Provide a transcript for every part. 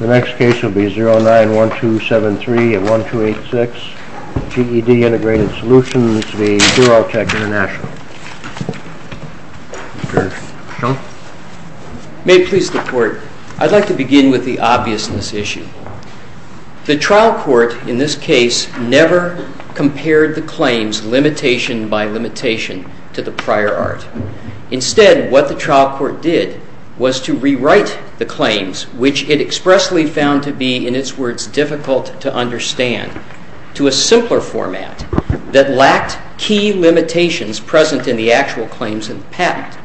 May it please the court, I'd like to begin with the obviousness issue. The trial court in this case never compared the claims limitation by limitation to the prior art. Instead what the trial court did was to rewrite the claims which it accepted. It expressly found to be, in its words, difficult to understand to a simpler format that lacked key limitations present in the actual claims of the patent.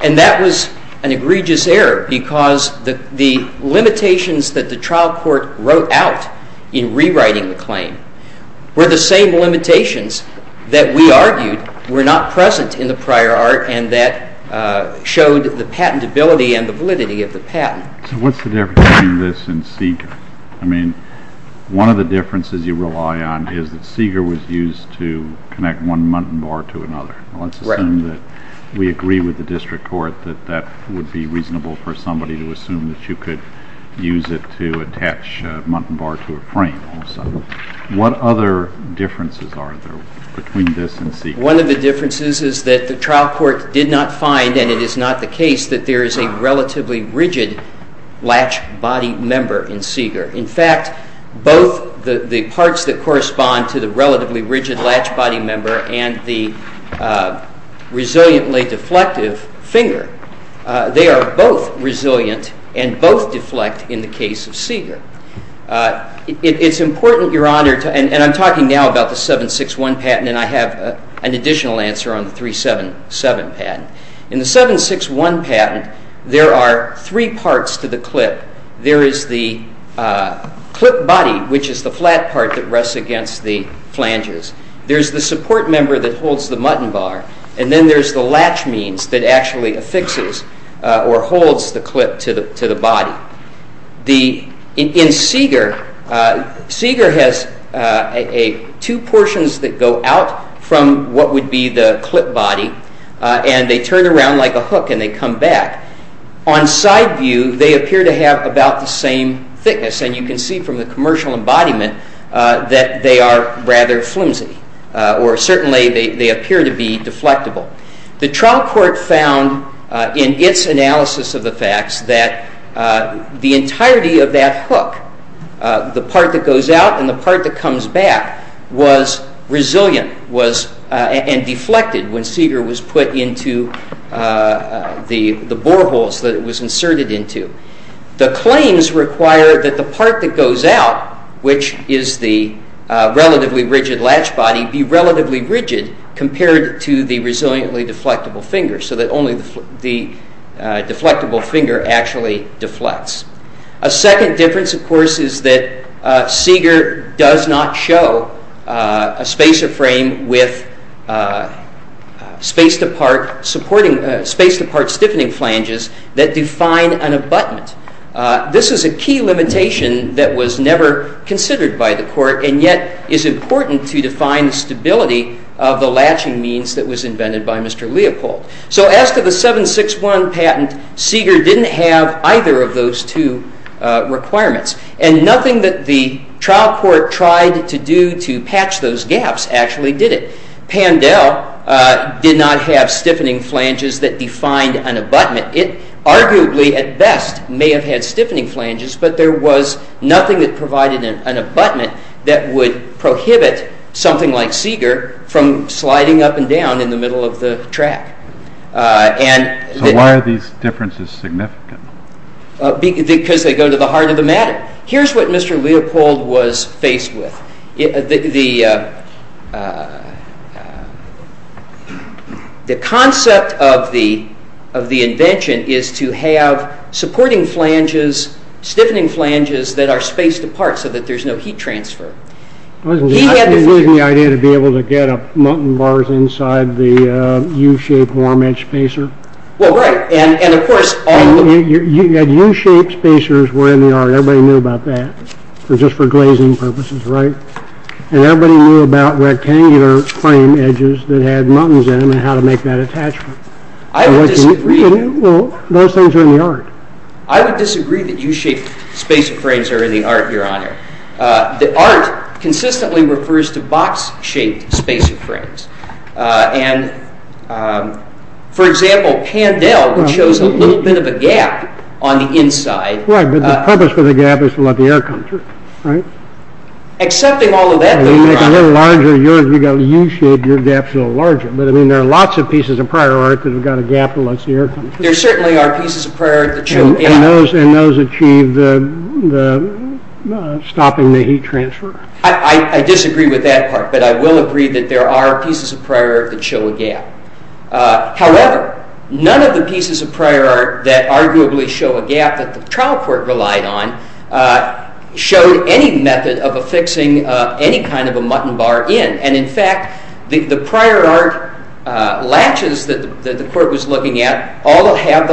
And that was an egregious error because the limitations that the trial court wrote out in rewriting the claim were the same limitations that we argued were not present in the prior art and that showed the patentability and the validity of the patent. So what's the difference between this and Seeger? I mean, one of the differences you rely on is that Seeger was used to connect one muntin bar to another. Let's assume that we agree with the district court that that would be reasonable for somebody to assume that you could use it to attach a muntin bar to a frame. What other differences are there between this and Seeger? One of the differences is that the trial court did not find, and it is not the case, that there is a relatively rigid latch body member in Seeger. In fact, both the parts that correspond to the relatively rigid latch body member and the resiliently deflective finger, they are both resilient and both deflect in the case of Seeger. It's important, Your Honor, and I'm talking now about the 7.61 patent and I have an additional answer on the 3.77 patent. In the 7.61 patent, there are three parts to the clip. There is the clip body, which is the flat part that rests against the flanges. There's the support member that holds the muntin bar, and then there's the latch means that actually affixes or holds the clip to the body. In Seeger, Seeger has two portions that go out from what would be the clip body, and they turn around like a hook and they come back. On side view, they appear to have about the same thickness, and you can see from the commercial embodiment that they are rather flimsy, or certainly they appear to be deflectible. The trial court found in its analysis of the facts that the entirety of that hook, the part that goes out and the part that comes back, was resilient and deflected when Seeger was put into the boreholes that it was inserted into. The claims require that the part that goes out, which is the relatively rigid latch body, be relatively rigid compared to the resiliently deflectible finger, so that only the deflectible finger actually deflects. A second difference, of course, is that Seeger does not show a spacer frame with spaced-apart stiffening flanges that define an abutment. This is a key limitation that was never considered by the court, and yet is important to define stability of the latching means that was invented by Mr. Leopold. So as to the 761 patent, Seeger didn't have either of those two requirements, and nothing that the trial court tried to do to patch those gaps actually did it. Pandell did not have stiffening flanges that defined an abutment. It arguably, at best, may have had stiffening flanges, but there was nothing that provided an abutment that would prohibit something like Seeger from sliding up and down in the middle of the track. So why are these differences significant? Because they go to the heart of the matter. Here's what Mr. Leopold was faced with. The concept of the invention is to have supporting flanges, stiffening flanges, that are spaced apart so that there's no heat transfer. Wasn't the idea to be able to get up muntin bars inside the U-shaped warm-edged spacer? Well, right. And of course, all the— U-shaped spacers were in the art. Everybody knew about that, just for glazing purposes, right? And everybody knew about rectangular frame edges that had muntins in them and how to make that attachment. I would disagree. Well, those things are in the art. I would disagree that U-shaped spacer frames are in the art, Your Honor. The art consistently refers to box-shaped spacer frames. And, for example, Pandell chose a little bit of a gap on the inside. Right, but the purpose for the gap is to let the air come through, right? Accepting all of that, Your Honor— You make a little larger U-shaped, your gap's a little larger. But, I mean, there are lots of pieces of prior art that have got a gap that lets the air come through. There certainly are pieces of prior art that show a gap. And those achieve the stopping the heat transfer? I disagree with that part, but I will agree that there are pieces of prior art that show a gap. However, none of the pieces of prior art that arguably show a gap that the trial court relied on showed any method of affixing any kind of a muntin bar in. And, in fact, the prior art latches that the court was looking at all have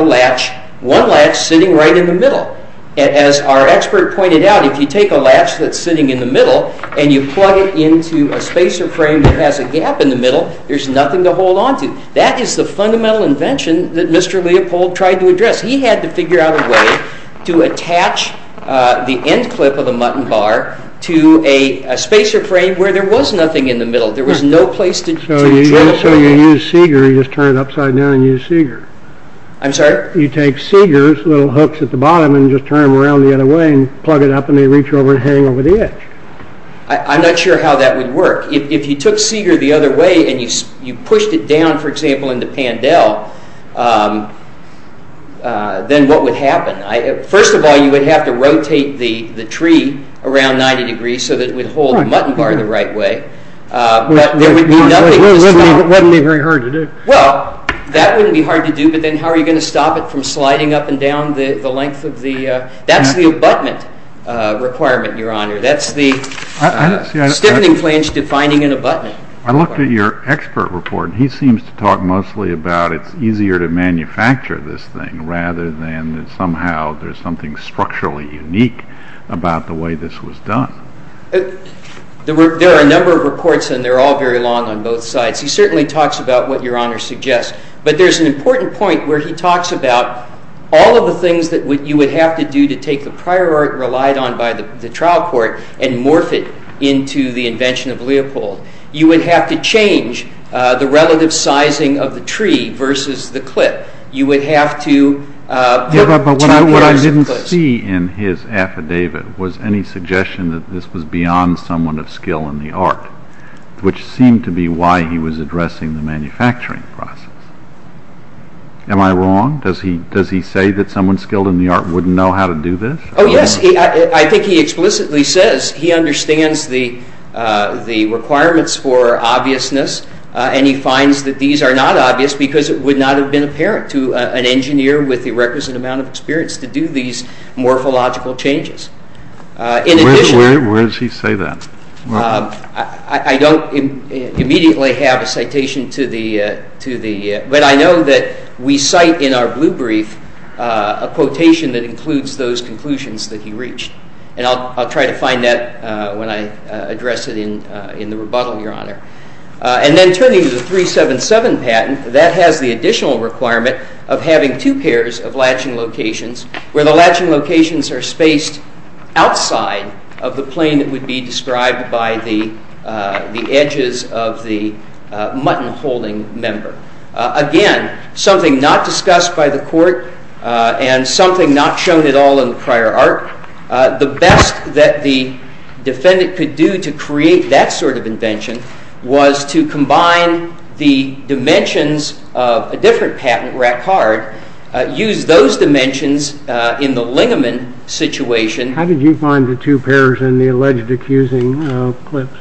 one latch sitting right in the middle. As our expert pointed out, if you take a latch that's sitting in the middle and you plug it into a spacer frame that has a gap in the middle, there's nothing to hold onto. That is the fundamental invention that Mr. Leopold tried to address. He had to figure out a way to attach the end clip of the muntin bar to a spacer frame where there was nothing in the middle. So you use Seeger, you just turn it upside down and use Seeger? I'm sorry? You take Seeger's little hooks at the bottom and just turn them around the other way and plug it up and they reach over and hang over the edge. I'm not sure how that would work. If you took Seeger the other way and you pushed it down, for example, into Pandell, then what would happen? First of all, you would have to rotate the tree around 90 degrees so that it would hold the muntin bar the right way. But there would be nothing to stop it. It wouldn't be very hard to do. Well, that wouldn't be hard to do, but then how are you going to stop it from sliding up and down the length of the... That's the abutment requirement, Your Honor. That's the stiffening flange defining an abutment. I looked at your expert report and he seems to talk mostly about it's easier to manufacture this thing rather than that somehow there's something structurally unique about the way this was done. There are a number of reports and they're all very long on both sides. He certainly talks about what Your Honor suggests, but there's an important point where he talks about all of the things that you would have to do to take the prior art relied on by the trial court and morph it into the invention of Leopold. You would have to change the relative sizing of the tree versus the clip. You would have to... Yeah, but what I didn't see in his affidavit was any suggestion that this was beyond someone of skill in the art, which seemed to be why he was addressing the manufacturing process. Am I wrong? Does he say that someone skilled in the art wouldn't know how to do this? Oh, yes. I think he explicitly says he understands the requirements for obviousness and he finds that these are not obvious because it would not have been apparent to an engineer with the requisite amount of experience to do these morphological changes. Where does he say that? I don't immediately have a citation to the... but I know that we cite in our blue brief a quotation that includes those conclusions that he reached and I'll try to find that when I address it in the rebuttal, Your Honor. And then turning to the 377 patent, that has the additional requirement of having two pairs of latching locations where the latching locations are spaced outside of the plane that would be described by the edges of the mutton holding member. Again, something not discussed by the court and something not shown at all in the prior art. The best that the defendant could do to create that sort of invention was to combine the dimensions of a different patent, use those dimensions in the Lingeman situation. How did you find the two pairs in the alleged accusing clips?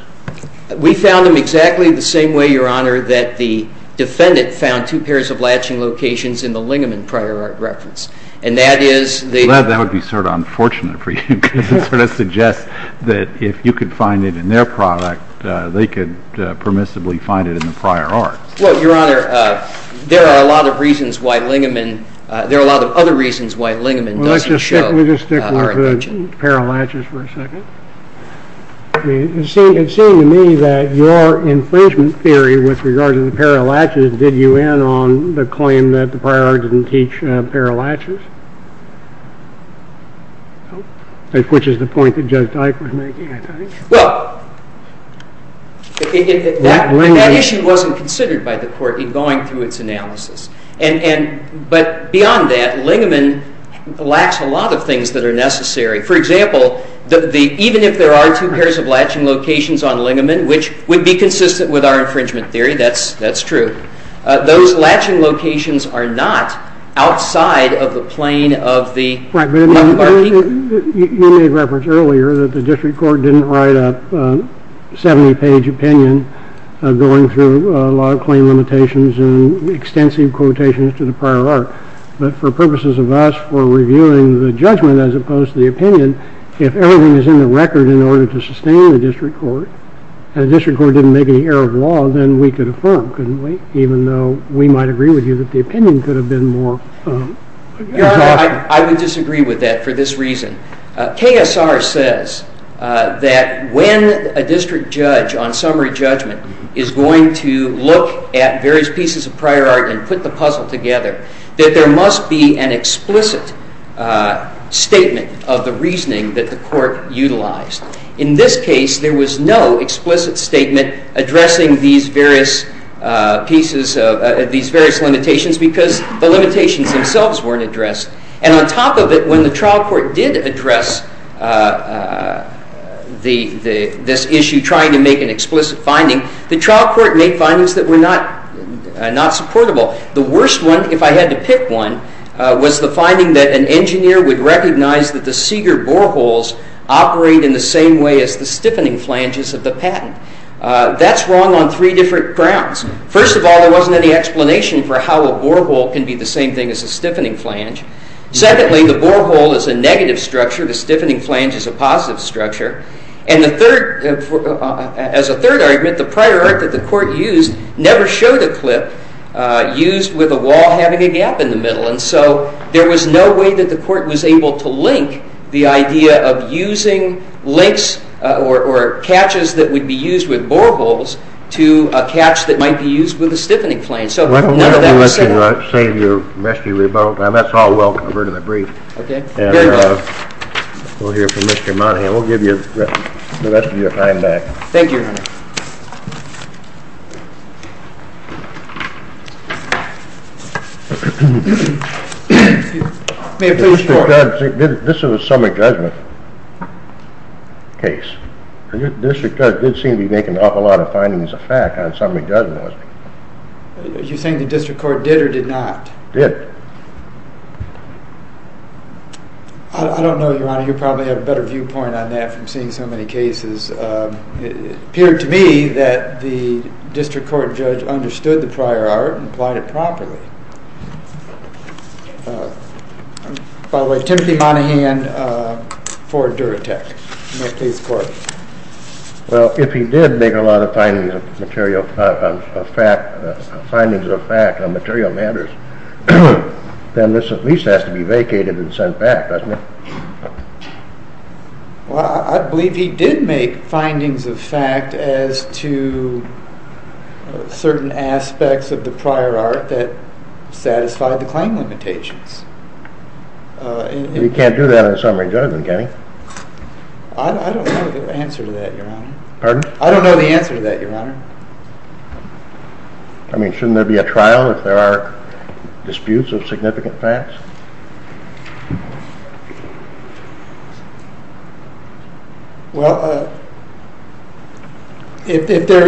We found them exactly the same way, Your Honor, that the defendant found two pairs of latching locations in the Lingeman prior art reference. And that is... Well, that would be sort of unfortunate for you because it sort of suggests that if you could find it in their product, they could permissibly find it in the prior art. Well, Your Honor, there are a lot of other reasons why Lingeman doesn't show our intention. Let's just stick with the pair of latches for a second. It seemed to me that your infringement theory with regard to the pair of latches did you in on the claim that the prior art didn't teach pair of latches, which is the point that Judge Dyke was making, I think. Well, that issue wasn't considered by the court in going through its analysis. But beyond that, Lingeman lacks a lot of things that are necessary. For example, even if there are two pairs of latching locations on Lingeman, which would be consistent with our infringement theory, that's true, those latching locations are not outside of the plane of the... You made reference earlier that the district court didn't write a 70-page opinion going through a lot of claim limitations and extensive quotations to the prior art. But for purposes of us, for reviewing the judgment as opposed to the opinion, if everything is in the record in order to sustain the district court, and the district court didn't make any error of law, then we could affirm, couldn't we? Even though we might agree with you that the opinion could have been more... Your Honor, I would disagree with that for this reason. KSR says that when a district judge, on summary judgment, is going to look at various pieces of prior art and put the puzzle together, that there must be an explicit statement of the reasoning that the court utilized. In this case, there was no explicit statement addressing these various limitations because the limitations themselves weren't addressed. And on top of it, when the trial court did address this issue, trying to make an explicit finding, the trial court made findings that were not supportable. The worst one, if I had to pick one, was the finding that an engineer would recognize that the Seeger boreholes operate in the same way as the stiffening flanges of the patent. That's wrong on three different grounds. First of all, there wasn't any explanation for how a borehole can be the same thing as a stiffening flange. Secondly, the borehole is a negative structure. The stiffening flange is a positive structure. And as a third argument, the prior art that the court used never showed a clip used with a wall having a gap in the middle. And so there was no way that the court was able to link the idea of using links or catches that would be used with boreholes to a catch that might be used with a stiffening flange. So none of that was said. Why don't we let you save your messy rebuttal time. That's all welcome. I've heard of the brief. Okay. Very well. And we'll hear from Mr. Monahan. We'll give you the rest of your time back. Thank you, Your Honor. May I please report? This is a summary judgment. Case. Your district judge did seem to be making an awful lot of findings of fact on summary judgment. You're saying the district court did or did not? Did. I don't know, Your Honor. You probably have a better viewpoint on that from seeing so many cases. It appeared to me that the district court judge understood the prior art and applied it properly. By the way, Timothy Monahan, Ford Duratec. May I please report? Well, if he did make a lot of findings of fact on material matters, then this at least has to be vacated and sent back, doesn't it? Well, I believe he did make findings of fact as to certain aspects of the prior art that satisfied the claim limitations. You can't do that on a summary judgment, can you? I don't know the answer to that, Your Honor. Pardon? I don't know the answer to that, Your Honor. I mean, shouldn't there be a trial if there are disputes of significant facts? Well, if there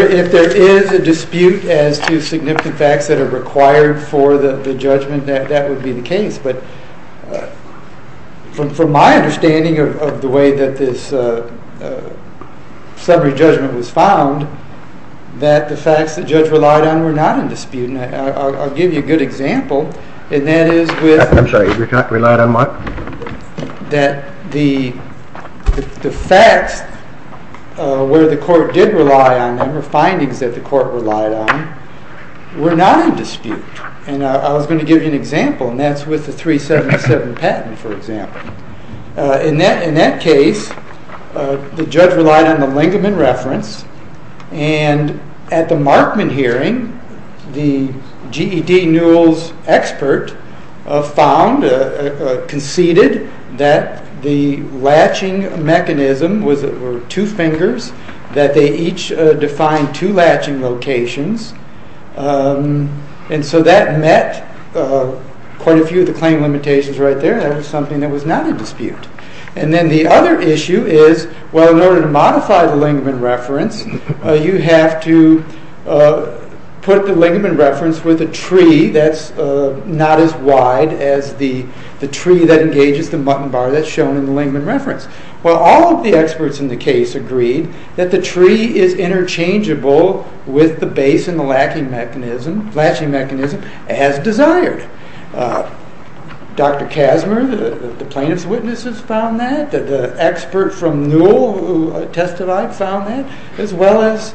is a dispute as to significant facts that are required for the judgment, that would be the case. But from my understanding of the way that this summary judgment was found, that the facts the judge relied on were not in dispute. And I'll give you a good example. That the facts where the court did rely on them, the findings that the court relied on, were not in dispute. And I was going to give you an example, and that's with the 377 patent, for example. In that case, the judge relied on the Lingaman reference, and at the Markman hearing, the GED Newell's expert found, conceded, that the latching mechanism was that there were two fingers, that they each defined two latching locations. And so that met quite a few of the claim limitations right there. That was something that was not in dispute. And then the other issue is, well, in order to modify the Lingaman reference, you have to put the Lingaman reference with a tree that's not as wide as the tree that engages the mutton bar that's shown in the Lingaman reference. Well, all of the experts in the case agreed that the tree is interchangeable with the base and the latching mechanism as desired. Dr. Casmer, the plaintiff's witnesses, found that. The expert from Newell who testified found that, as well as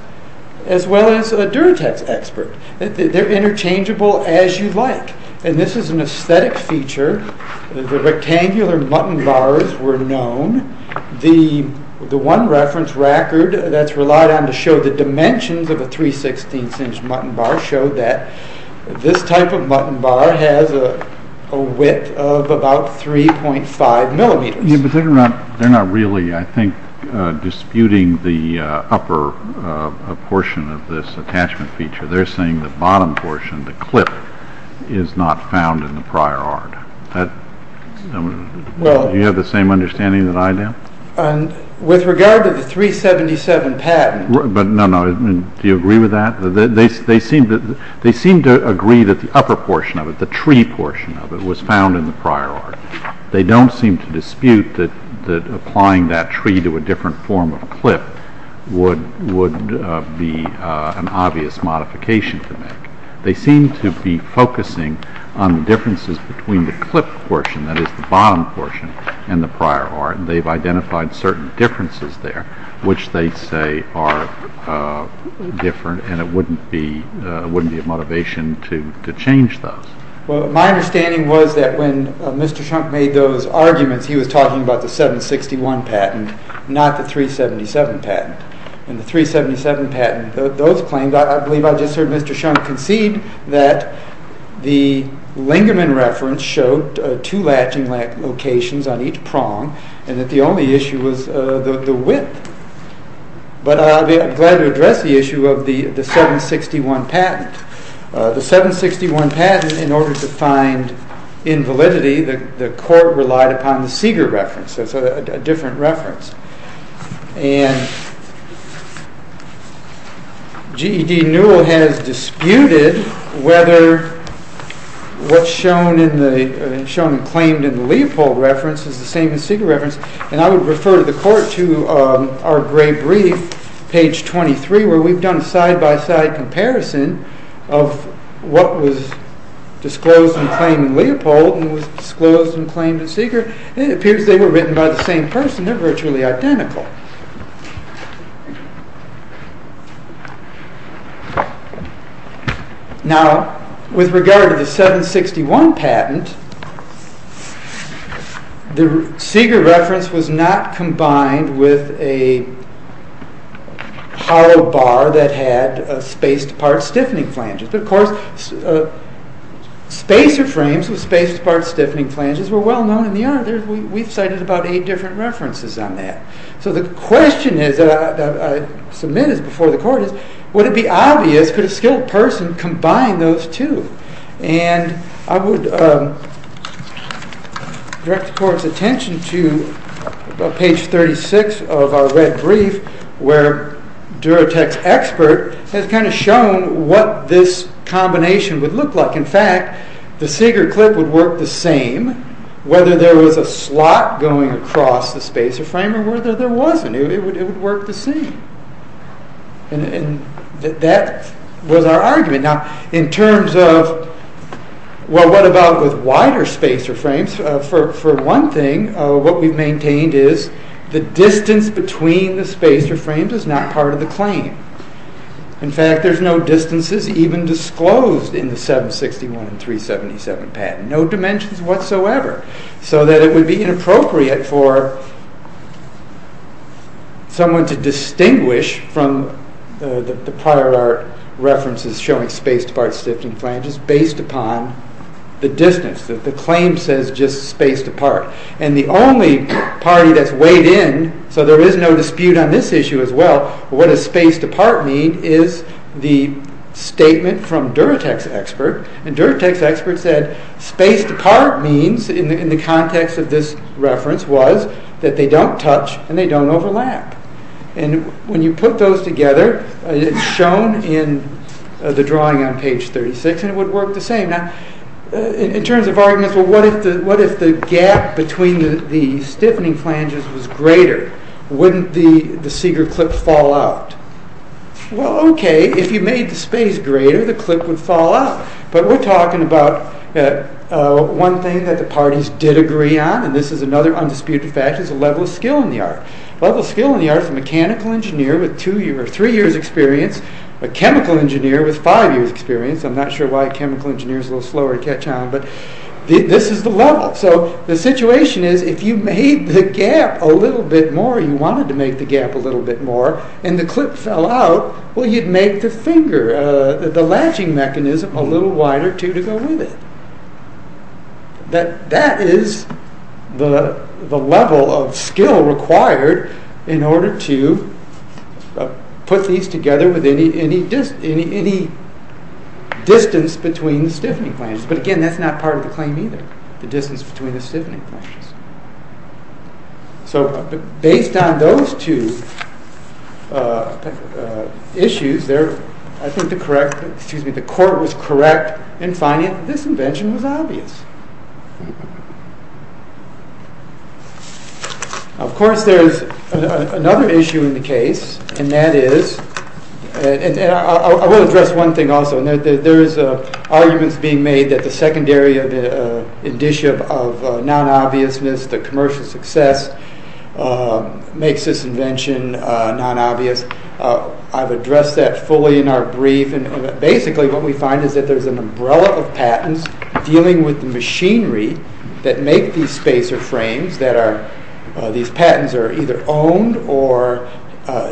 a Duratex expert. They're interchangeable as you like. And this is an aesthetic feature. The rectangular mutton bars were known. The one reference record that's relied on to show the dimensions of a 3-16th inch mutton bar showed that this type of mutton bar has a width of about 3.5 millimeters. But they're not really, I think, disputing the upper portion of this attachment feature. They're saying the bottom portion, the clip, is not found in the prior art. Do you have the same understanding that I do? With regard to the 377 patent... No, no. Do you agree with that? They seem to agree that the upper portion of it, the tree portion of it, was found in the prior art. They don't seem to dispute that applying that tree to a different form of clip would be an obvious modification to make. They seem to be focusing on the differences between the clip portion, that is the bottom portion, and the prior art. They've identified certain differences there which they say are different and it wouldn't be a motivation to change those. My understanding was that when Mr. Shunk made those arguments, he was talking about the 761 patent, not the 377 patent. In the 377 patent, those claims, I believe I just heard Mr. Shunk concede that the Lingerman reference showed two latching locations on each prong and that the only issue was the width. But I'll be glad to address the issue of the 761 patent. The 761 patent, in order to find invalidity, the court relied upon the Seeger reference. That's a different reference. And G.E.D. Newell has disputed whether what's shown and claimed in the Leopold reference is the same as Seeger reference. And I would refer the court to our gray brief, page 23, where we've done a side-by-side comparison of what was disclosed and claimed in Leopold and was disclosed and claimed in Seeger. It appears they were written by the same person. They're virtually identical. Now, with regard to the 761 patent, the Seeger reference was not combined with a hollow bar that had spaced apart stiffening flanges. But, of course, spacer frames with spaced apart stiffening flanges were well known in the art. We've cited about eight different references on that. So the question that I submit before the court is, would it be obvious, could a skilled person combine those two? And I would direct the court's attention to page 36 of our red brief, where Durotek's expert has kind of shown what this combination would look like. In fact, the Seeger clip would work the same, whether there was a slot going across the spacer frame or whether there wasn't. It would work the same. And that was our argument. Now, in terms of, well, what about with wider spacer frames? For one thing, what we've maintained is the distance between the spacer frames is not part of the claim. In fact, there's no distances even disclosed in the 761 and 377 patent. No dimensions whatsoever. So that it would be inappropriate for someone to distinguish from the prior art references showing spaced apart stiffening flanges based upon the distance. The claim says just spaced apart. And the only party that's weighed in, so there is no dispute on this issue as well, what does spaced apart mean is the statement from Durotek's expert. And Durotek's expert said, spaced apart means, in the context of this reference, was that they don't touch and they don't overlap. And when you put those together, it's shown in the drawing on page 36, and it would work the same. Now, in terms of arguments, well, what if the gap between the stiffening flanges was greater? Wouldn't the Seeger clip fall out? Well, okay, if you made the space greater, the clip would fall out. But we're talking about one thing that the parties did agree on, and this is another undisputed fact, is the level of skill in the art. The level of skill in the art is a mechanical engineer with three years' experience, a chemical engineer with five years' experience. I'm not sure why a chemical engineer is a little slower to catch on, but this is the level. So the situation is, if you made the gap a little bit more, you wanted to make the gap a little bit more, and the clip fell out, well, you'd make the finger, the latching mechanism, a little wider, too, to go with it. That is the level of skill required in order to put these together with any distance between the stiffening flanges. But again, that's not part of the claim either, the distance between the stiffening flanges. So based on those two issues, I think the court was correct in finding that this invention was obvious. Of course, there's another issue in the case, and that is, and I will address one thing also, and there's arguments being made that the secondary indicia of non-obviousness, the commercial success, makes this invention non-obvious. I've addressed that fully in our brief, and basically what we find is that there's an umbrella of patents dealing with the machinery that make these spacer frames. These patents are either owned or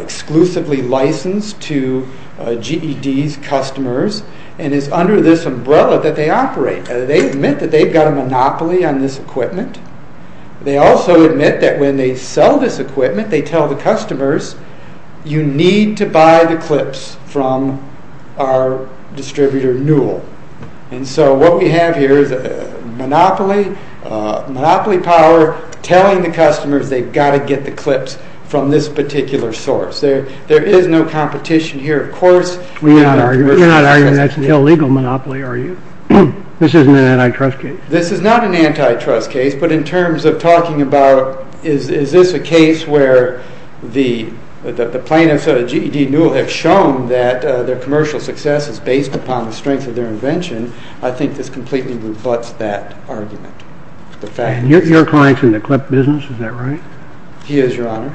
exclusively licensed to GED's customers, and it's under this umbrella that they operate. They admit that they've got a monopoly on this equipment. They also admit that when they sell this equipment, they tell the customers, you need to buy the clips from our distributor Newell. And so what we have here is a monopoly power telling the customers they've got to get the clips from this particular source. There is no competition here, of course. We're not arguing that's an illegal monopoly, are you? This isn't an antitrust case? This is not an antitrust case, but in terms of talking about is this a case where the plaintiffs at GED Newell have shown that their commercial success is based upon the strength of their invention, I think this completely rebuts that argument. Your client's in the clip business, is that right? He is, Your Honor.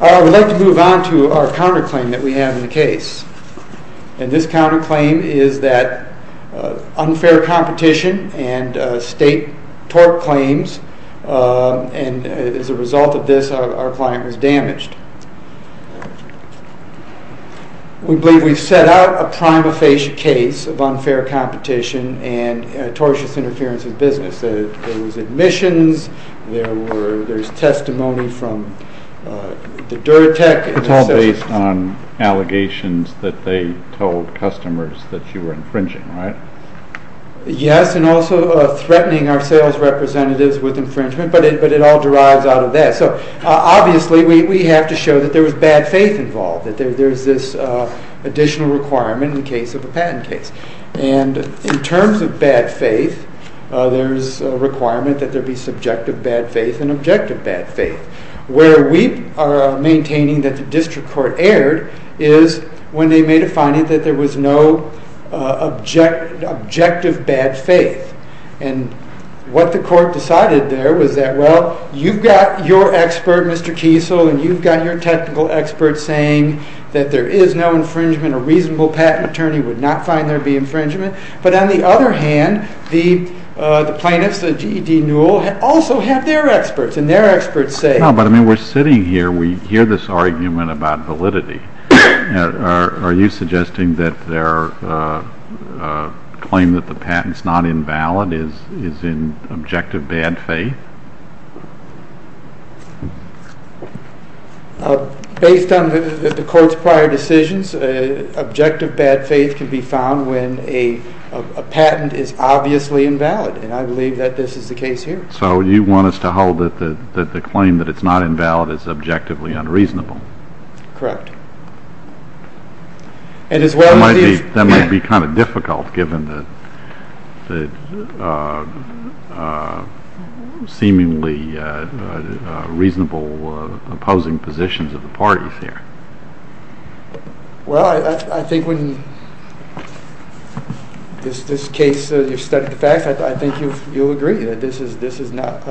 I would like to move on to our counterclaim that we have in the case. And this counterclaim is that of unfair competition and state tort claims. And as a result of this, our client was damaged. We believe we've set out a prima facie case of unfair competition and tortious interference in business. There was admissions. There's testimony from the Duratec. It's all based on allegations that they told customers that you were infringing, right? Yes, and also threatening our sales representatives with infringement, but it all derives out of that. So obviously we have to show that there was bad faith involved, that there's this additional requirement in the case of a patent case. And in terms of bad faith, there's a requirement that there be subjective bad faith and objective bad faith. Where we are maintaining that the district court erred is when they made a finding that there was no objective bad faith. And what the court decided there was that, well, you've got your expert, Mr. Kiesel, and you've got your technical expert saying that there is no infringement. A reasonable patent attorney would not find there be infringement. But on the other hand, the plaintiffs, the GED Newell, also have their experts, and their experts say... No, but I mean, we're sitting here. We hear this argument about validity. Are you suggesting that their claim that the patent's not invalid is in objective bad faith? Based on the court's prior decisions, objective bad faith can be found when a patent is obviously invalid, and I believe that this is the case here. So you want us to hold that the claim that it's not invalid is objectively unreasonable? Correct. That might be kind of difficult given the seemingly reasonable opposing positions of the parties here. Well, I think when this case, you've studied the facts, I think you'll agree that this is not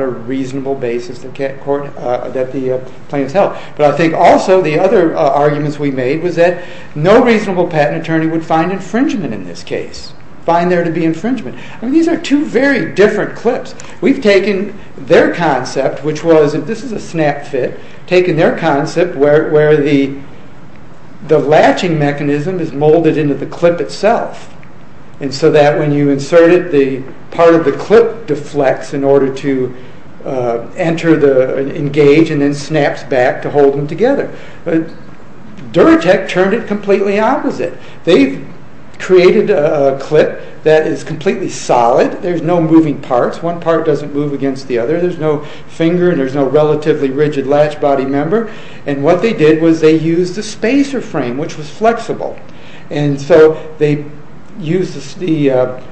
a reasonable basis that the plaintiffs held. But I think also the other arguments we made was that no reasonable patent attorney would find infringement in this case, find there to be infringement. I mean, these are two very different clips. We've taken their concept, which was, and this is a snap fit, taken their concept where the latching mechanism is molded into the clip itself, and so that when you insert it, part of the clip deflects in order to engage and then snaps back to hold them together. Duratect turned it completely opposite. They've created a clip that is completely solid. There's no moving parts. One part doesn't move against the other. There's no finger, and there's no relatively rigid latch body member. And what they did was they used a spacer frame, which was flexible. And so they used the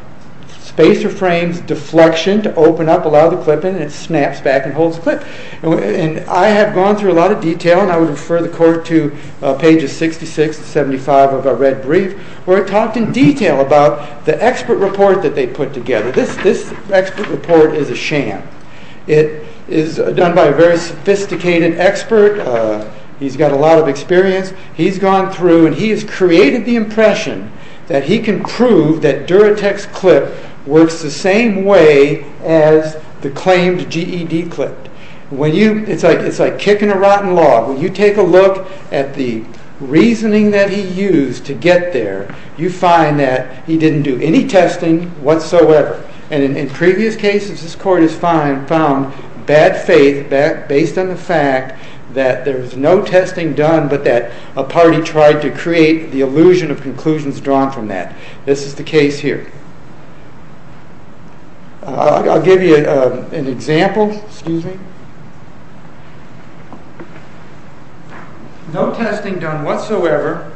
spacer frame's deflection to open up, allow the clip in, and it snaps back and holds the clip. And I have gone through a lot of detail, and I would refer the court to pages 66 and 75 of our red brief, where it talked in detail about the expert report that they put together. This expert report is a sham. It is done by a very sophisticated expert. He's got a lot of experience. He's gone through, and he has created the impression that he can prove that Duratect's clip works the same way as the claimed GED clip. It's like kicking a rotten log. When you take a look at the reasoning that he used to get there, you find that he didn't do any testing whatsoever. And in previous cases, this court has found bad faith based on the fact that there was no testing done but that a party tried to create the illusion of conclusions drawn from that. This is the case here. I'll give you an example. No testing done whatsoever,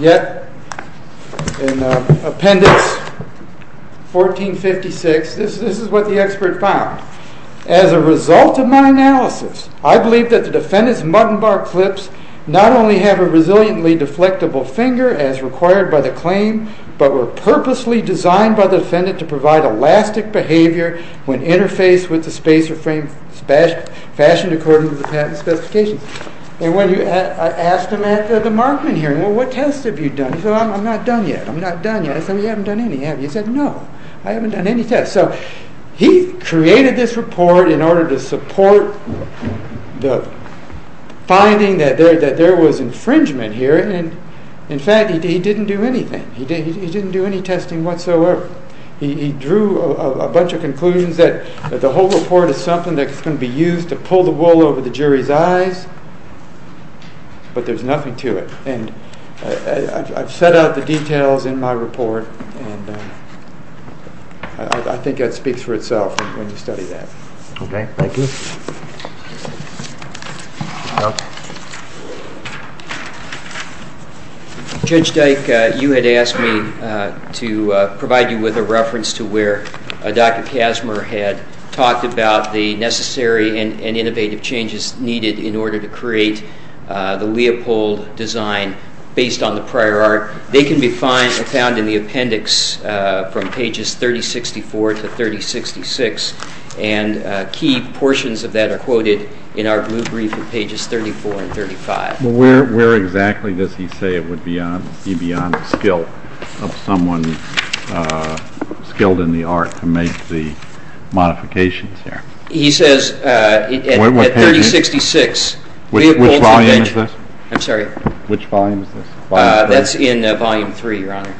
yet in Appendix 1456, As a result of my analysis, I believe that the defendant's mutton-bar clips not only have a resiliently deflectible finger as required by the claim, but were purposely designed by the defendant to provide elastic behavior when interfaced with the spacer frame fashioned according to the patent specifications. I asked him at the Markman hearing, what tests have you done? He said, I'm not done yet. I said, you haven't done any, have you? He said, no, I haven't done any tests. He created this report in order to support the finding that there was infringement here. In fact, he didn't do anything. He didn't do any testing whatsoever. He drew a bunch of conclusions that the whole report is something that's going to be used to pull the wool over the jury's eyes, but there's nothing to it. I've set out the details in my report. I think that speaks for itself when you study that. Okay, thank you. Judge Dyke, you had asked me to provide you with a reference to where Dr. Kazimer had talked about the necessary and innovative changes needed in order to create the Leopold design based on the prior art. They can be found in the appendix from pages 3064 to 3066, and key portions of that are quoted in our brief in pages 34 and 35. Where exactly does he say it would be beyond the skill of someone skilled in the art to make the modifications there? He says at 3066, Leopold's invention. Which volume is this? I'm sorry? Which volume is this? That's in volume three, Your Honor.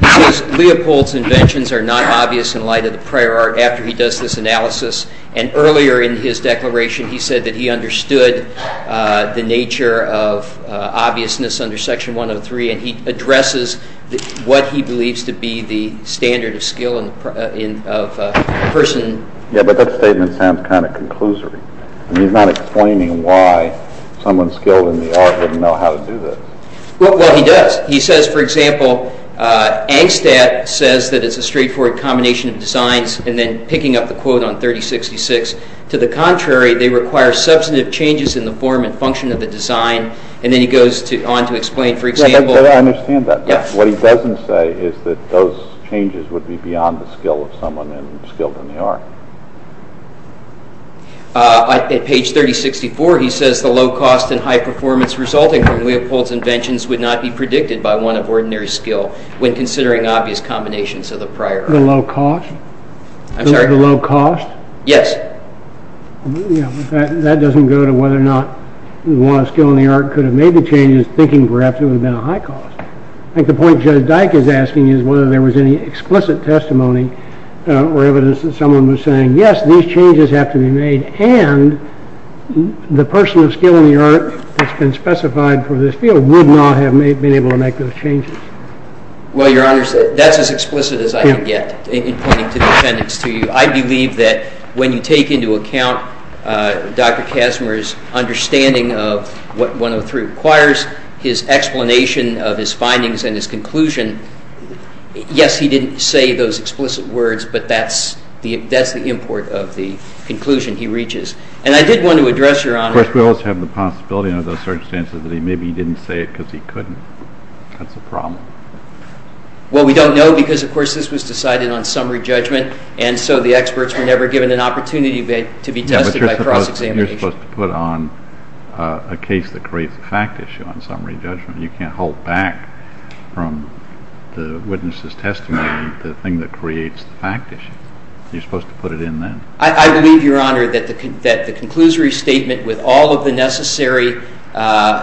He says Leopold's inventions are not obvious in light of the prior art after he does this analysis, and earlier in his declaration he said that he understood the nature of obviousness under section 103, and he addresses what he believes to be the standard of skill of a person. Yeah, but that statement sounds kind of conclusive. He's not explaining why someone skilled in the art wouldn't know how to do this. Well, he does. He says, for example, Angstadt says that it's a straightforward combination of designs, and then picking up the quote on 3066. To the contrary, they require substantive changes in the form and function of the design, and then he goes on to explain, for example... Yeah, but I understand that. What he doesn't say is that those changes would be beyond the skill of someone skilled in the art. At page 3064, he says the low cost and high performance resulting from Leopold's inventions would not be predicted by one of ordinary skill when considering obvious combinations of the prior art. The low cost? I'm sorry? The low cost? Yes. Yeah, but that doesn't go to whether or not one skilled in the art could have made the changes thinking perhaps it would have been a high cost. I think the point Judge Dyke is asking is whether there was any explicit testimony or evidence that someone was saying, yes, these changes have to be made, and the person of skill in the art that's been specified for this field would not have been able to make those changes. Well, Your Honor, that's as explicit as I can get in pointing to the defendants to you. I believe that when you take into account Dr. Kastner's understanding of what 103 requires, his explanation of his findings and his conclusion, yes, he didn't say those explicit words, but that's the import of the conclusion he reaches. And I did want to address, Your Honor. Of course, we also have the possibility under those circumstances that maybe he didn't say it because he couldn't. That's a problem. Well, we don't know because, of course, this was decided on summary judgment and so the experts were never given an opportunity to be tested by cross-examination. You're supposed to put on a case that creates a fact issue on summary judgment. You can't hold back from the witness's testimony the thing that creates the fact issue. You're supposed to put it in then. I believe, Your Honor, that the conclusory statement with all of the necessary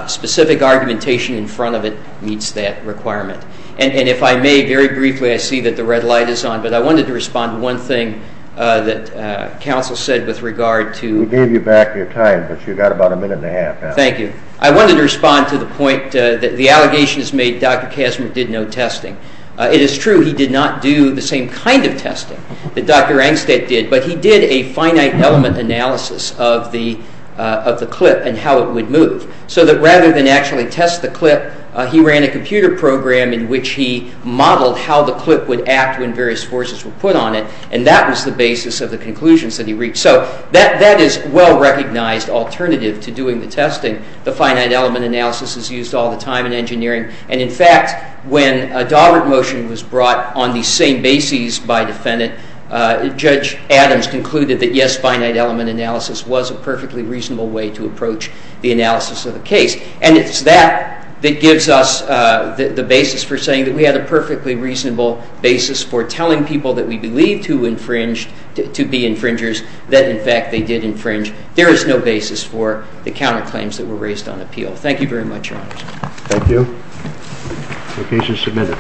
specific argumentation in front of it meets that requirement. And if I may, very briefly, I see that the red light is on, but I wanted to respond to one thing that counsel said with regard to... We gave you back your time, but you've got about a minute and a half now. Thank you. I wanted to respond to the point that the allegations made that Dr. Kastner did no testing. It is true he did not do the same kind of testing that Dr. Angstad did, but he did a finite element analysis of the clip and how it would move. So that rather than actually test the clip, he ran a computer program in which he modeled how the clip would act when various forces were put on it, and that was the basis of the conclusions that he reached. So that is a well-recognized alternative to doing the testing. The finite element analysis is used all the time in engineering, and in fact, when a Daubert motion was brought on the same basis by defendant, Judge Adams concluded that yes, finite element analysis was a perfectly reasonable way to approach the analysis of the case. And it is that that gives us the basis for saying that we had a perfectly reasonable basis for telling people that we believed to be infringers that in fact they did infringe. There is no basis for the counterclaims that were raised on appeal. Thank you very much, Your Honor. Thank you. The case is submitted.